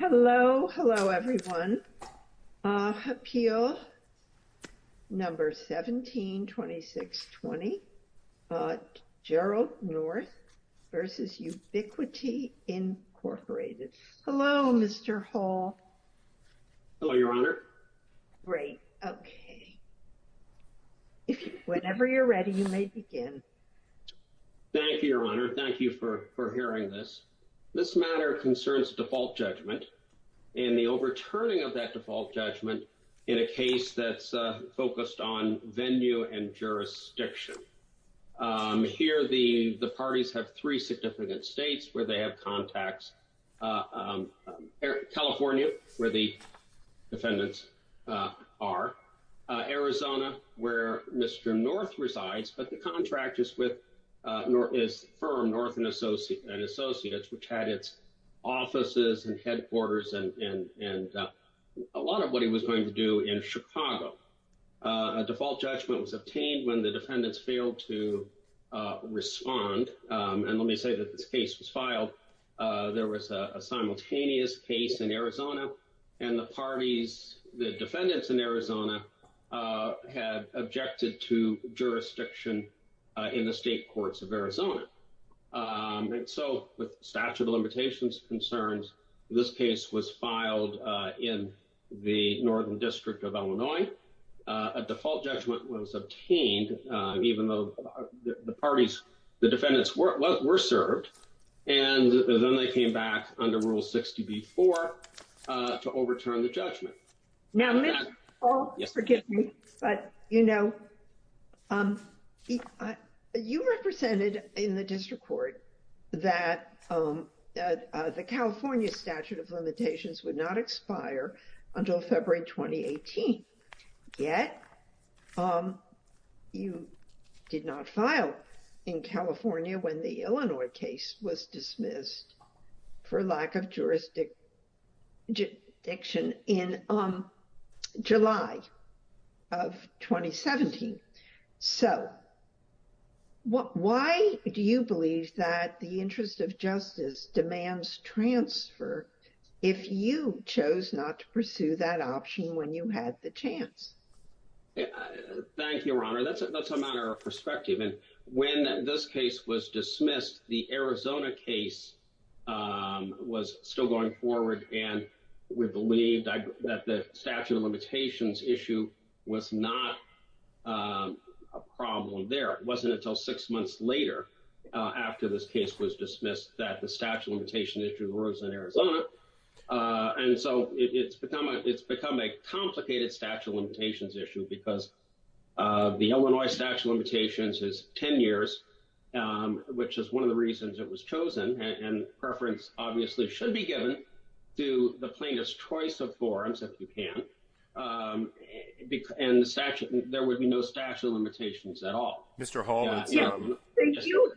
Hello. Hello, everyone. Appeal number 172620, Gerald North v. Ubiquity, Incorporated. Hello, Mr. Hall. Hello, Your Honor. Great. Okay. Whenever you're ready, you may begin. Thank you, Your Honor. Thank you for hearing this. This matter concerns default judgment and the overturning of that default judgment in a case that's focused on venue and jurisdiction. Here, the parties have three significant states where they have contacts. California, where the defendants are. Arizona, where Mr. North resides, but the contract is with his firm, North and Associates, which had its offices and headquarters and a lot of what he was going to do in Chicago. A default judgment was obtained when the defendants failed to respond. And let me say that this case was filed. There was a simultaneous case in Arizona, and the parties, the defendants in Arizona had objected to jurisdiction in the state courts of Arizona. And so with statute of limitations concerns, this case was filed in the Northern District of Illinois. A default judgment was obtained, even though the parties, the defendants were served, and then they came back under Rule 60B-4 to overturn the judgment. Now, Mr. Hall, forgive me, but, you know, you represented in the district court that the California statute of limitations would not expire until February 2018, yet you did not file in California when the Illinois case was dismissed for lack of jurisdiction in July of 2017. So why do you believe that the interest of justice demands transfer if you chose not to pursue that option when you had the chance? Thank you, Your Honor. That's a matter of perspective. And when this case was dismissed, the Arizona case was still going forward, and we believed that the statute of limitations issue was not a problem there. It wasn't until six months later after this case was dismissed that the statute of limitations issue arose in Arizona. And so it's become a complicated statute of limitations issue because the Illinois statute of limitations is 10 years, which is one of the reasons it was chosen, and preference obviously should be given to the plaintiff's choice of forms, if you can, and there would be no statute of limitations at all. Mr. Hall,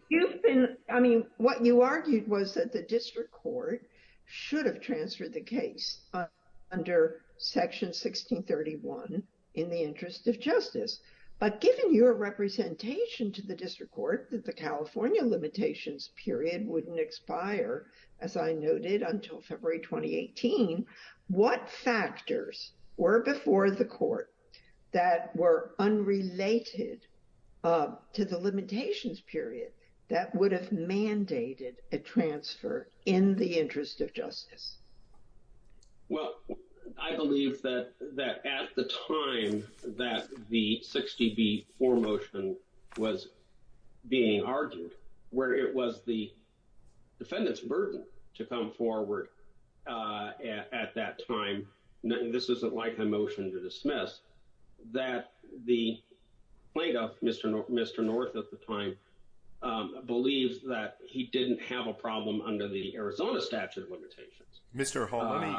you've been, I mean, what you argued was that the district court should have transferred the case under section 1631 in the interest of justice, but given your representation to the district court that the California limitations period wouldn't expire, as I noted, until February 2018, what factors were before the court that were unrelated to the limitations period that would have mandated a transfer in the interest of justice? Well, I believe that at the time that the 60B4 motion was being argued, where it was the at that time, this isn't like a motion to dismiss, that the plaintiff, Mr. North at the time, believes that he didn't have a problem under the Arizona statute of limitations. Mr. Hall, let me,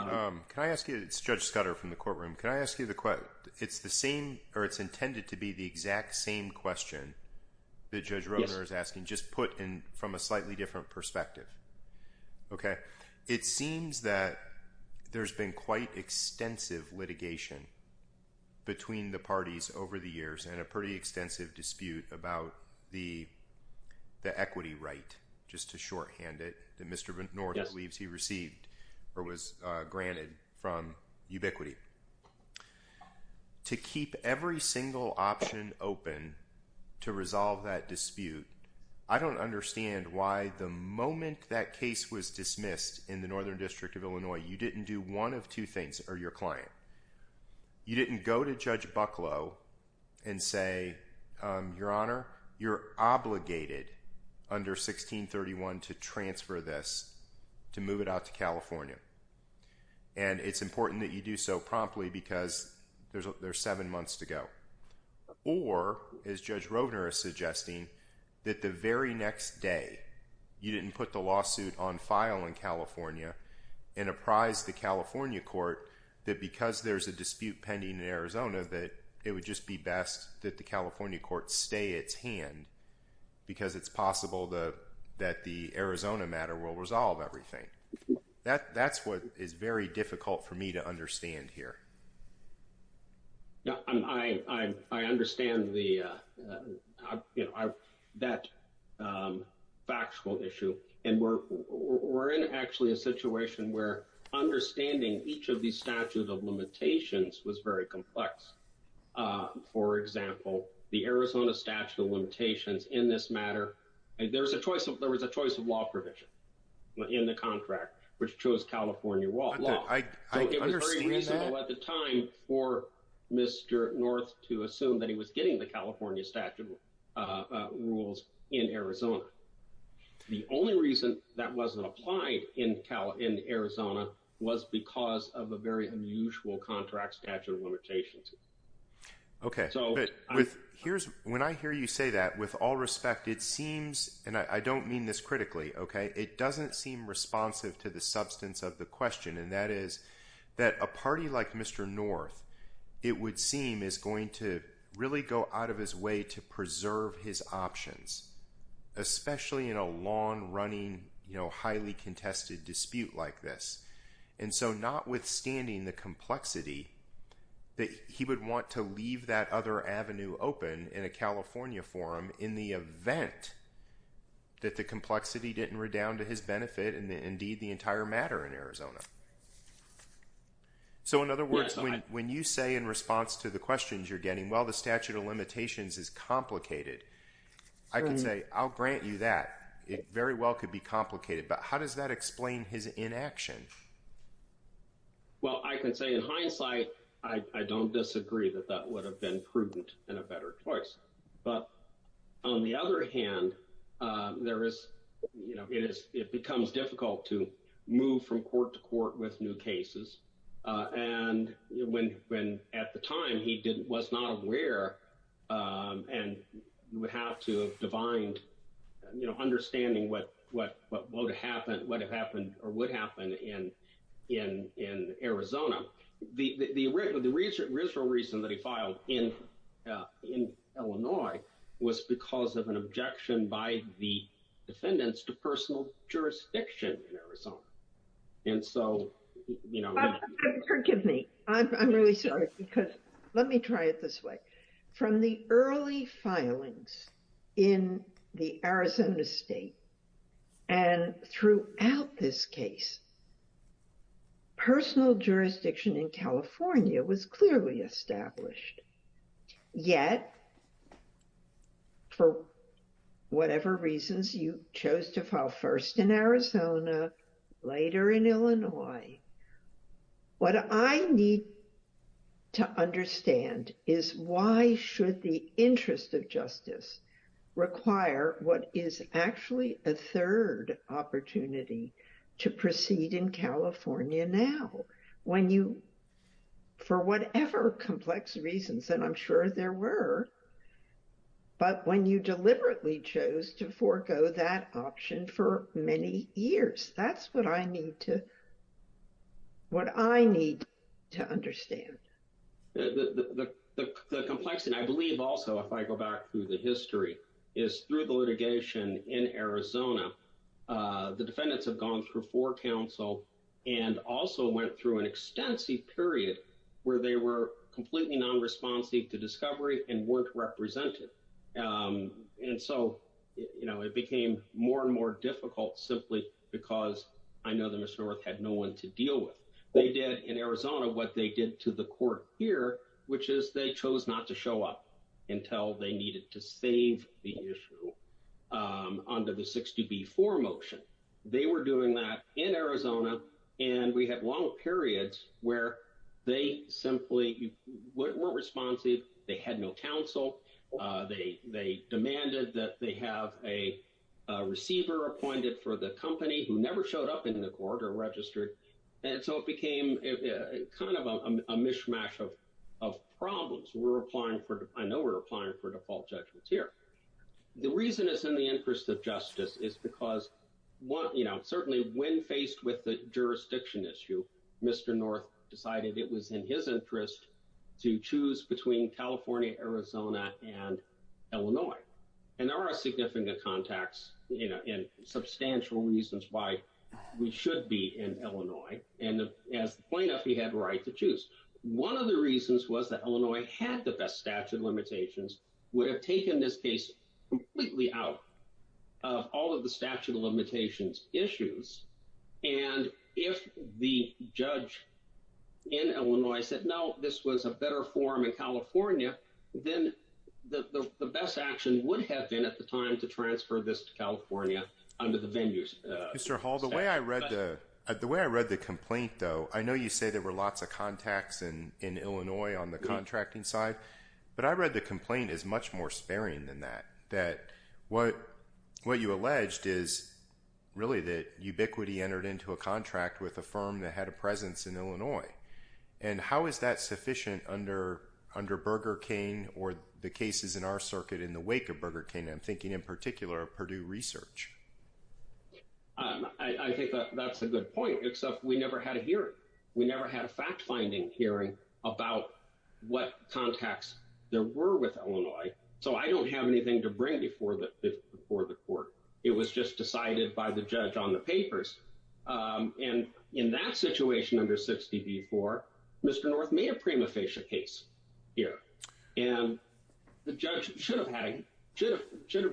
can I ask you, it's Judge Scudder from the courtroom, can I ask you the question? It's the same, or it's intended to be the exact same question that Judge Roeder is asking, just put in from a slightly different perspective, okay? It seems that there's been quite extensive litigation between the parties over the years and a pretty extensive dispute about the equity right, just to shorthand it, that Mr. North believes he received or was granted from Ubiquity. To keep every single option open to resolve that dispute, I don't understand why the moment that case was dismissed in the Northern District of Illinois, you didn't do one of two things, or your client. You didn't go to Judge Bucklow and say, Your Honor, you're obligated under 1631 to transfer this, to move it out to California. And it's important that you do so promptly, because there's seven months to go. Or, as Judge Roeder is suggesting, that the very next day, you didn't put the lawsuit on file in California and apprise the California Court that because there's a dispute pending in Arizona, that it would just be best that the California Court stay its hand, because it's possible that the Arizona matter will resolve everything. That's what is very difficult for me to understand here. No, I understand that factual issue. And we're in actually a situation where understanding each of the statute of limitations in this matter, there was a choice of law provision in the contract, which chose California law. So it was very reasonable at the time for Mr. North to assume that he was getting the California statute of rules in Arizona. The only reason that wasn't applied in Arizona was because of a very unusual contract statute of limitations. Okay. When I hear you say that, with all respect, it seems, and I don't mean this critically, okay, it doesn't seem responsive to the substance of the question. And that is that a party like Mr. North, it would seem is going to really go out of his way to preserve his options, especially in a long running, highly contested dispute like this. And so notwithstanding the would want to leave that other avenue open in a California forum in the event that the complexity didn't redound to his benefit and indeed the entire matter in Arizona. So in other words, when you say in response to the questions you're getting, well, the statute of limitations is complicated. I can say, I'll grant you that. It very well could be complicated. But how does that explain his inaction? Well, I can say in hindsight, I don't disagree that that would have been prudent and a better choice. But on the other hand, there is, it becomes difficult to move from court to court with new cases. And when at the time he was not aware, and you would have to have defined, you know, understanding what would have happened or would happen in Arizona. The original reason that he filed in Illinois was because of an objection by the defendants to personal jurisdiction in Arizona. And so, you know. Forgive me. I'm really sorry, because let me try it this way. From the early filings in the Arizona state and throughout this case, personal jurisdiction in California was clearly established. Yet, for whatever reasons, you chose to file first in Arizona, later in Illinois. What I need to understand is why should the interest of justice require what is actually a third opportunity to proceed in California now? When you, for whatever complex reasons, and I'm sure there were. But when you deliberately chose to forego that option for many years, that's what I need to, what I need to understand. The complexity, and I believe also, if I go back through the history, is through the litigation in Arizona. The defendants have gone through four counsel and also went through an extensive period where they were completely non-responsive to discovery and weren't represented. And so, you know, it became more and more difficult simply because I know that Mr. North had no one to deal with. They did in Arizona what they did to the court here, which is they chose not to show up until they needed to save the issue under the 62B4 motion. They were doing that in Arizona, and we had long periods where they simply weren't responsive. They had no counsel. They demanded that they have a receiver appointed for the company who never showed up in the court or registered. And so it became kind of a mishmash of problems. I know we're applying for default judgments here. The reason it's in the interest of justice is because, you know, certainly when faced with the jurisdiction issue, Mr. North decided it was in his interest to choose between California, Arizona, and Illinois. And there are significant contacts, you know, and substantial reasons why we should be in Illinois. And as the plaintiff, he had a right to choose. One of the reasons was that Illinois had the best statute of limitations, would have taken this case completely out of all of the statute of limitations issues. And if the judge in Illinois said, no, this was a better form in California, then the best action would have been at the time to transfer this to California under the venues. Mr. Hall, the way I read the complaint, though, I know you say there were lots of contacts in Illinois on the contracting side, but I read the complaint as much more sparing than that, that what you alleged is really that Ubiquiti entered into a contract with a firm that had a presence in Illinois. And how is that sufficient under Burger King or the cases in our circuit in the wake of Burger King? I'm thinking in particular of Purdue Research. I think that's a good point, except we never had a hearing. We never had a fact-finding hearing about what contacts there were with Illinois. So I don't have anything to And in that situation under 60 v. 4, Mr. North made a prima facie case here. And the judge should have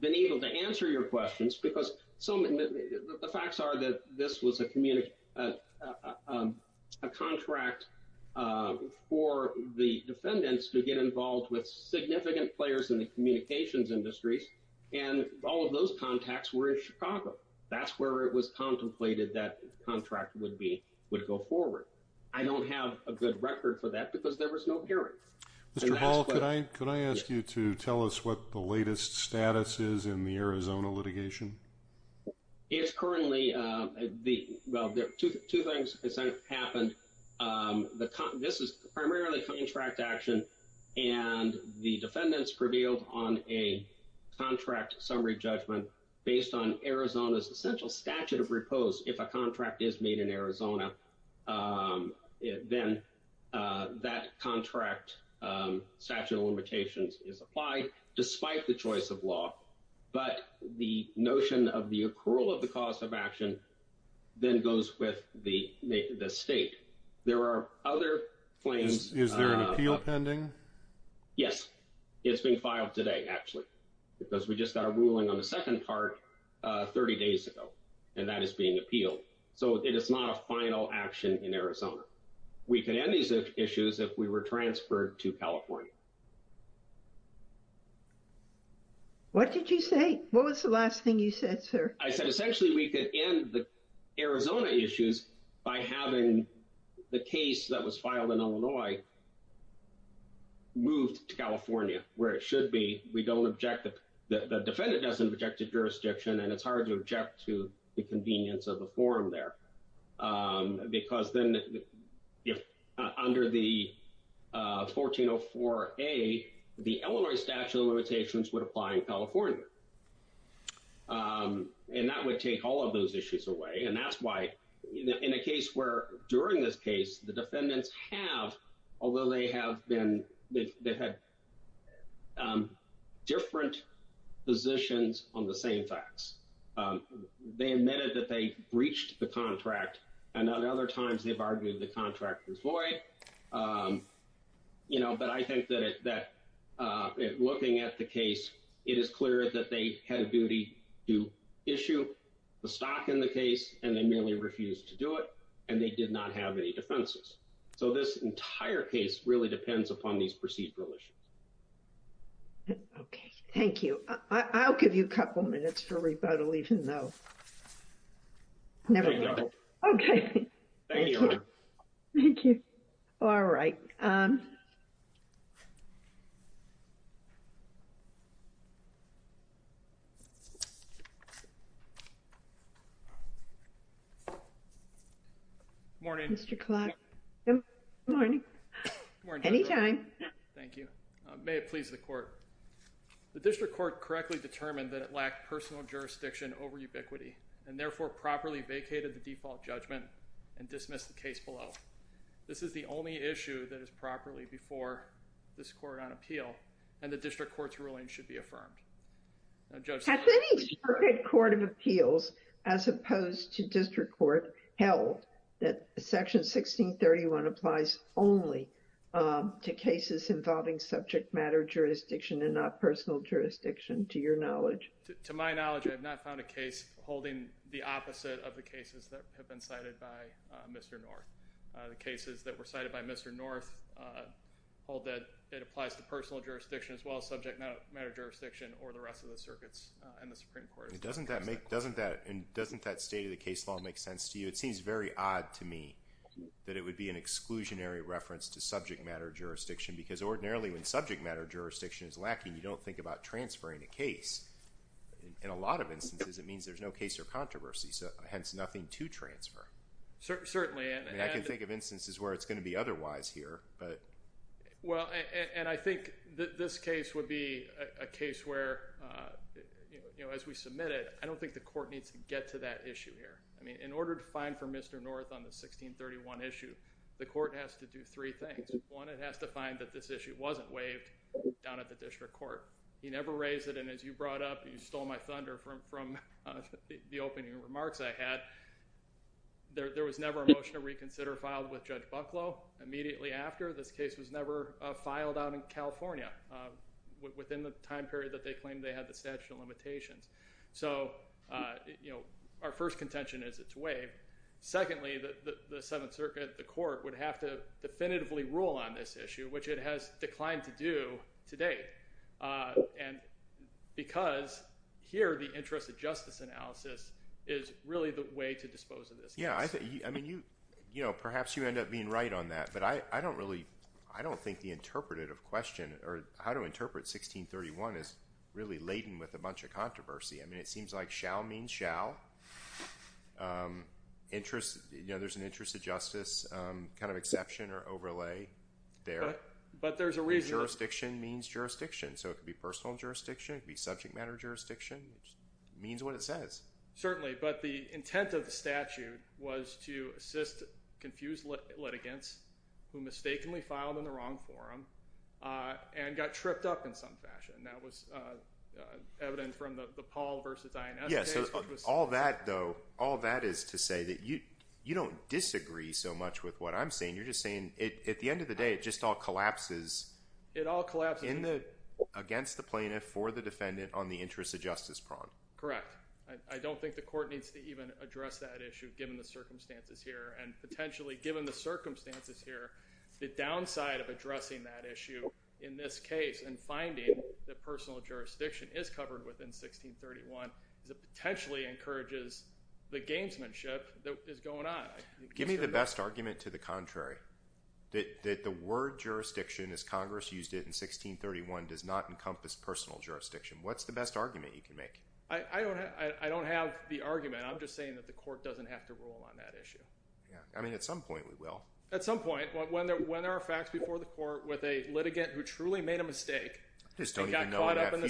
been able to answer your questions because the facts are that this was a contract for the defendants to get involved with significant players in the communications industries. And all of those contacts were in Chicago. That's where it was contemplated that contract would go forward. I don't have a good record for that because there was no hearing. Mr. Hall, could I ask you to tell us what the latest status is in the Arizona litigation? It's currently, well, two things happened. This is primarily contract action, and the defendants prevailed on a contract summary judgment based on Arizona's essential statute of repose. If a contract is made in Arizona, then that contract statute of limitations is applied despite the choice of law. But the notion of the accrual of the cost of action then goes with the state. There are other claims. Is there an appeal pending? Yes. It's being filed today, actually, because we just got a ruling on the second part 30 days ago, and that is being appealed. So it is not a final action in Arizona. We can end these issues if we were transferred to California. What did you say? What was the last thing you said, sir? I said essentially we could end the Arizona issues by having the case that was filed in Illinois moved to California where it should be. We don't object. The defendant doesn't object to jurisdiction, and it's hard to object to the convenience of the forum there because then under the 1404A, the Illinois statute of limitations would apply in California. And that would take all of those issues away, and that's why in a case where during this case, the defendants have, although they have been, they've had different positions on the same facts. They admitted that they breached the contract, and other times they've argued the contract was void. But I think that looking at the case, it is clear that they had a duty to issue the stock in the case, and they merely refused to do it, and they did not have any defenses. So this entire case really depends upon these procedural issues. Okay. Thank you. I'll give you a couple minutes for rebuttal, even though never. Okay. Thank you. Thank you. All right. Morning, Mr. Clark. Morning. Anytime. Thank you. May it please the court. The district court correctly determined that it lacked personal jurisdiction over ubiquity, and therefore properly vacated the default judgment and dismissed the case below. This is the only issue that is properly before this court on appeal, and the district court's ruling should be affirmed. Has any circuit court of appeals as opposed to district court held that Section 1631 applies only to cases involving subject matter jurisdiction and not personal jurisdiction, to your knowledge? To my knowledge, I have not found a case holding the opposite of the cases that have been cited by Mr. North. The cases that were cited by Mr. North hold that it applies to personal jurisdiction as well as subject matter jurisdiction, or the rest of the circuits in the Supreme Court. Doesn't that state of the case law make sense to you? It seems very odd to me that it would be an exclusionary reference to subject matter jurisdiction, because ordinarily when subject matter jurisdiction is lacking, you don't think about transferring a case. In a lot of instances, it means there's no case or controversy, hence nothing to transfer. Certainly. I can think of instances where it's going to be otherwise here. Well, and I think this case would be a case where, you know, as we submit it, I don't think the court needs to get to that issue here. I mean, in order to find for Mr. North on the 1631 issue, the court has to do three things. One, it has to find that this issue wasn't waived down at the district court. He never raised it, and as you brought up, you stole my thunder from the opening remarks I had. There was never a motion to reconsider filed with Judge Bucklow immediately after. This case was never filed out in California within the time period that they claimed they had the statute of limitations. So, you know, our first contention is it's waived. Secondly, the Seventh Circuit, the court, would have to definitively rule on this issue, which it has declined to do to date, and because here the interest of justice analysis is really the way to dispose of this case. Yeah, I mean, you know, perhaps you end up being right on that, but I don't really, I don't think the interpretative question or how to interpret 1631 is really laden with a bunch of controversy. I mean, it seems like shall means shall. Interest, you know, there's an interest of justice kind of exception or overlay there. But there's a reason. Jurisdiction means jurisdiction, so it could be personal jurisdiction, it could be subject matter jurisdiction. It just means what it says. Certainly, but the intent of the statute was to assist confused litigants who mistakenly filed in the wrong forum and got tripped up in some evidence from the Paul v. Ines case. Yeah, so all that, though, all that is to say that you don't disagree so much with what I'm saying. You're just saying at the end of the day, it just all collapses. It all collapses. Against the plaintiff, for the defendant, on the interest of justice prong. Correct. I don't think the court needs to even address that issue, given the circumstances here, and potentially, given the circumstances here, the downside of addressing that issue in this case and finding that personal jurisdiction is covered within 1631 is it potentially encourages the gamesmanship that is going on. Give me the best argument to the contrary, that the word jurisdiction as Congress used it in 1631 does not encompass personal jurisdiction. What's the best argument you can make? I don't have the argument. I'm just saying that the court doesn't have to rule on that issue. Yeah, I mean, at some point, when there are facts before the court with a litigant who truly made a mistake. So as far as I do want to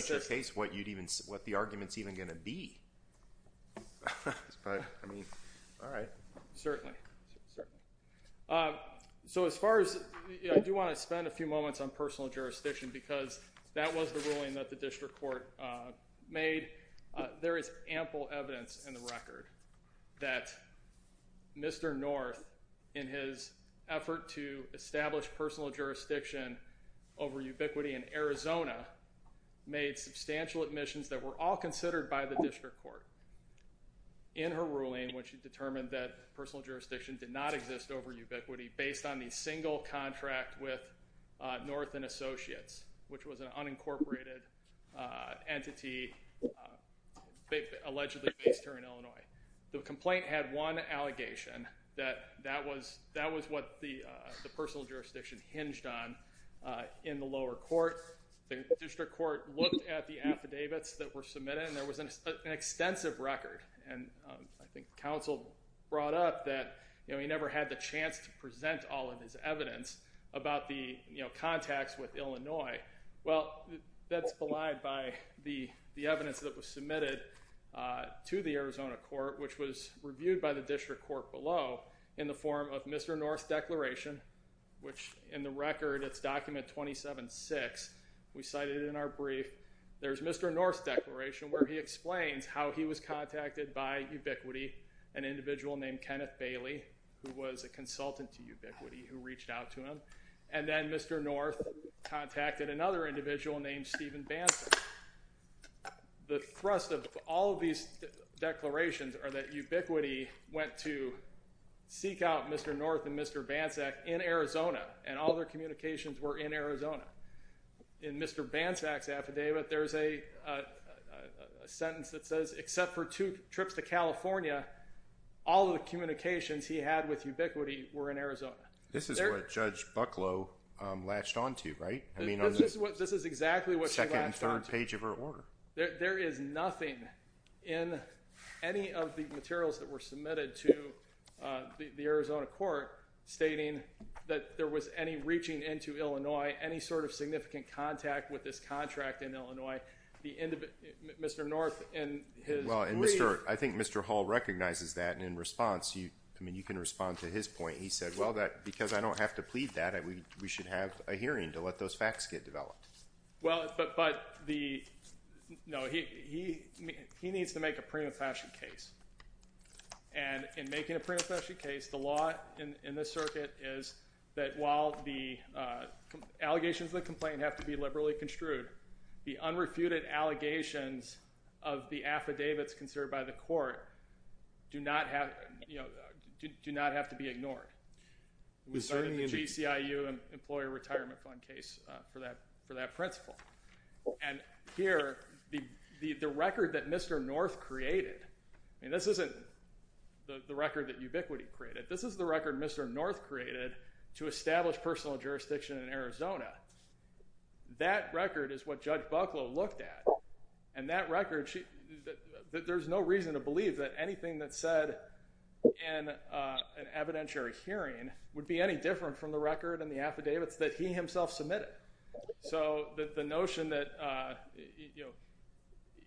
spend a few moments on personal jurisdiction, because that was the ruling that the district court made. There is ample evidence in the record that Mr. North, in his effort to establish personal jurisdiction over ubiquity in Arizona, made substantial admissions that were all considered by the district court. In her ruling, which determined that personal jurisdiction did not exist over ubiquity, based on the single contract with North and Associates, which was an unincorporated entity, allegedly based here in Illinois. The complaint had one allegation that that was what the personal jurisdiction hinged on in the lower court. The district court looked at the affidavits that were submitted, and there was an extensive record. And I think counsel brought up that he never had the chance to present all of his evidence about the contacts with Illinois. Well, that's belied by the evidence that was submitted to the Arizona court, which was reviewed by the district court below in the form of Mr. North's declaration, which in the record, it's document 27-6. We cited it in our brief. There's Mr. North's declaration where he explains how he was contacted by ubiquity, an individual named Kenneth Bailey, who was a consultant to another individual named Steven Bansack. The thrust of all of these declarations are that ubiquity went to seek out Mr. North and Mr. Bansack in Arizona, and all their communications were in Arizona. In Mr. Bansack's affidavit, there's a sentence that says, except for two trips to California, all of the communications he had with ubiquity were in Arizona. This is what Judge Bucklow latched onto, right? This is exactly what she latched onto. Second and third page of her order. There is nothing in any of the materials that were submitted to the Arizona court stating that there was any reaching into Illinois, any sort of significant contact with this contract in Illinois, Mr. North in his brief. Well, I think Mr. Hall recognizes that, and in response, you can respond to his point. He said, well, because I don't have to plead that, we should have a hearing to let those facts get developed. Well, but he needs to make a prima facie case, and in making a prima facie case, the law in this circuit is that while the allegations of the complaint have to be liberally construed, the unrefuted allegations of the complaint do not have to be ignored. We started the GCIU Employer Retirement Fund case for that principle, and here, the record that Mr. North created, I mean, this isn't the record that ubiquity created. This is the record Mr. North created to establish personal jurisdiction in Arizona. That record is what Judge Bucklow looked at, and that record, there's no reason to believe that anything that's said in an evidentiary hearing would be any different from the record and the affidavits that he himself submitted. So, the notion that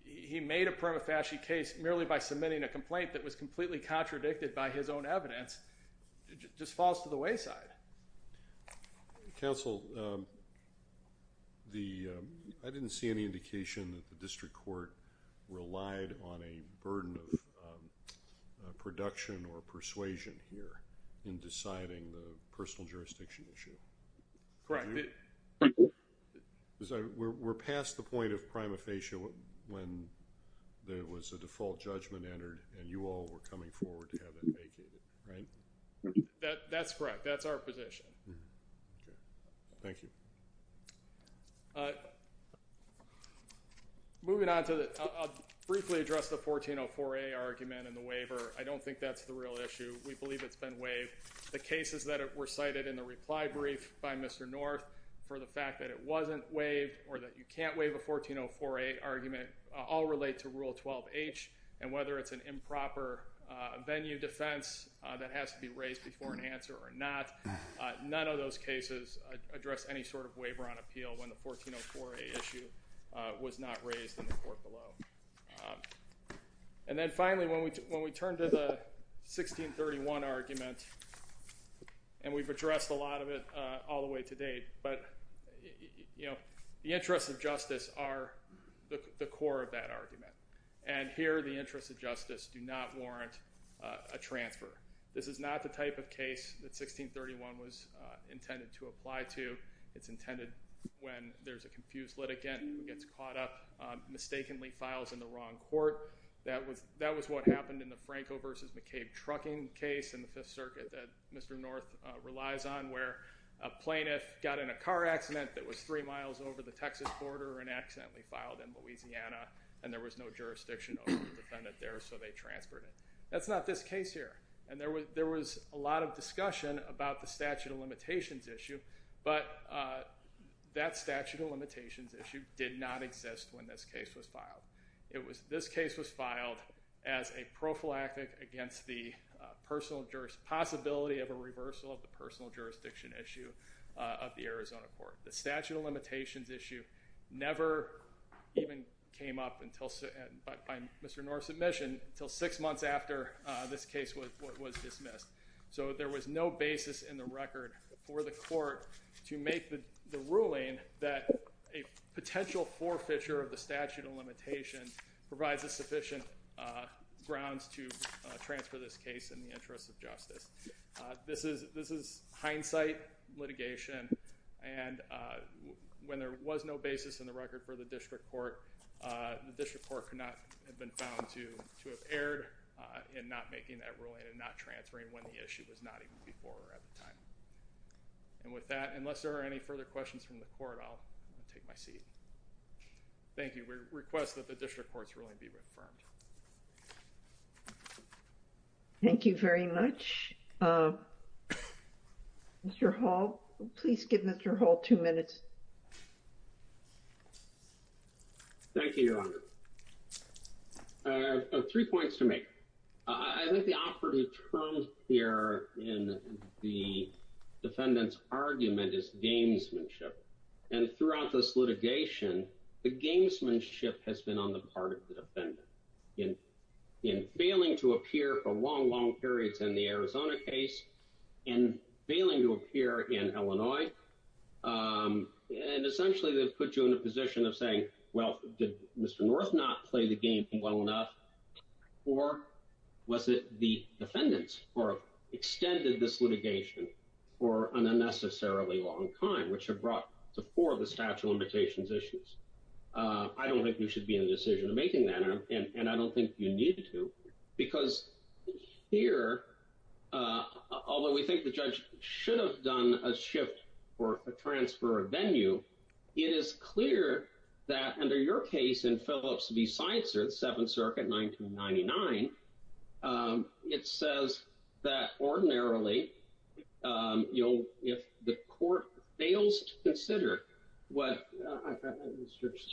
he made a prima facie case merely by submitting a complaint that was completely contradicted by his own evidence just falls to the wayside. Counsel, I didn't see any indication that the district court relied on a burden of production or persuasion here in deciding the personal jurisdiction issue. Correct. We're past the point of prima facie when there was a default judgment entered, and you all were coming forward to have that vacated, right? That's correct. That's our Briefly address the 1404A argument in the waiver. I don't think that's the real issue. We believe it's been waived. The cases that were cited in the reply brief by Mr. North for the fact that it wasn't waived or that you can't waive a 1404A argument all relate to Rule 12H, and whether it's an improper venue defense that has to be raised before an answer or not, none of those cases address any sort of waiver on appeal when the 1404A issue was not raised in the court below. And then finally, when we turn to the 1631 argument, and we've addressed a lot of it all the way to date, but the interests of justice are the core of that argument, and here the interests of justice do not warrant a transfer. This is not the type of case that 1631 was intended to apply to. It's intended when there's a confused litigant who gets caught up, mistakenly files in the wrong court. That was what happened in the Franco versus McCabe trucking case in the Fifth Circuit that Mr. North relies on, where a plaintiff got in a car accident that was three miles over the Texas border and accidentally filed in Louisiana, and there was no jurisdiction over the defendant there, so they transferred it. That's not this case here, and there was a lot of discussion about the statute of limitations issue, but that statute of limitations issue did not exist when this case was filed. This case was filed as a prophylactic against the possibility of a reversal of the personal jurisdiction issue of the Arizona court. The statute of limitations issue never even came up by Mr. North's admission until six months after this case was dismissed, so there was no to make the ruling that a potential forfeiture of the statute of limitations provides a sufficient grounds to transfer this case in the interest of justice. This is hindsight litigation, and when there was no basis in the record for the district court, the district court could not have been found to have erred in not making that ruling and not transferring when the issue was not before at the time. And with that, unless there are any further questions from the court, I'll take my seat. Thank you. We request that the district courts ruling be reaffirmed. Thank you very much. Mr. Hall, please give Mr. Hall two minutes. Thank you, Your Honor. Three points to make. I think the operative term here in the defendant's argument is gamesmanship, and throughout this litigation, the gamesmanship has been on the part of the defendant. In failing to appear for long, long periods in the Arizona case, in failing to appear in Illinois, and essentially they've put you in a position of saying, well, did Mr. North not play the game well enough, or was it the defendants who extended this litigation for an unnecessarily long time, which have brought to fore the statute of limitations issues. I don't think you should be in the decision of making that, and I don't think you need to, because here, although we think the judge should have done a shift or a transfer of venue, it is clear that under your case in Phillips v. Seitzer, the Seventh Circuit, 1999, it says that ordinarily, if the court fails to consider what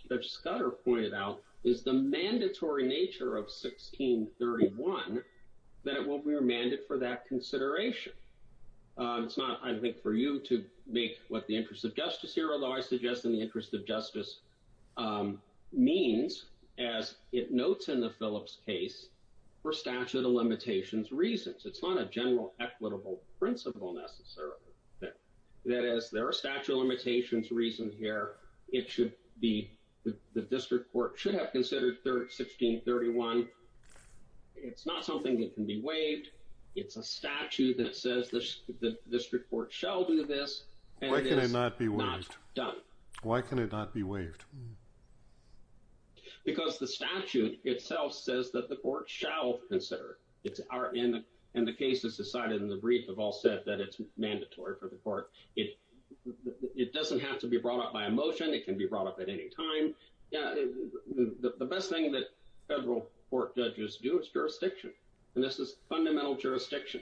Judge Scudder pointed out, is the mandatory nature of 1631, that it will be remanded for that consideration. It's not, I think, for you to make what the interest of justice here, although I suggest in the interest of justice means, as it notes in the Phillips case, for statute of limitations reasons. It's not a general equitable principle, necessarily. That is, there are statute of limitations reasons here. It should be, the district court should have considered 1631. It's not something that can be waived. It's a statute that says the district court shall do this, and it's not done. Why can it not be waived? Because the statute itself says that the court shall consider it, and the cases decided in the brief have all said that it's mandatory for the court. It doesn't have to be brought up by a motion. It can be brought up at any time. The best thing that federal court judges do is jurisdiction, and this is fundamental jurisdiction.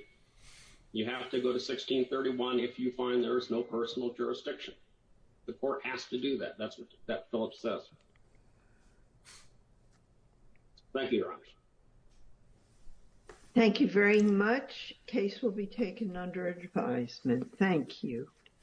You have to go to 1631 if you find there is no personal jurisdiction. The court has to do that. That's what that Phillips says. Thank you, Your Honor. Thank you very much. Case will be taken under advisement. Thank you.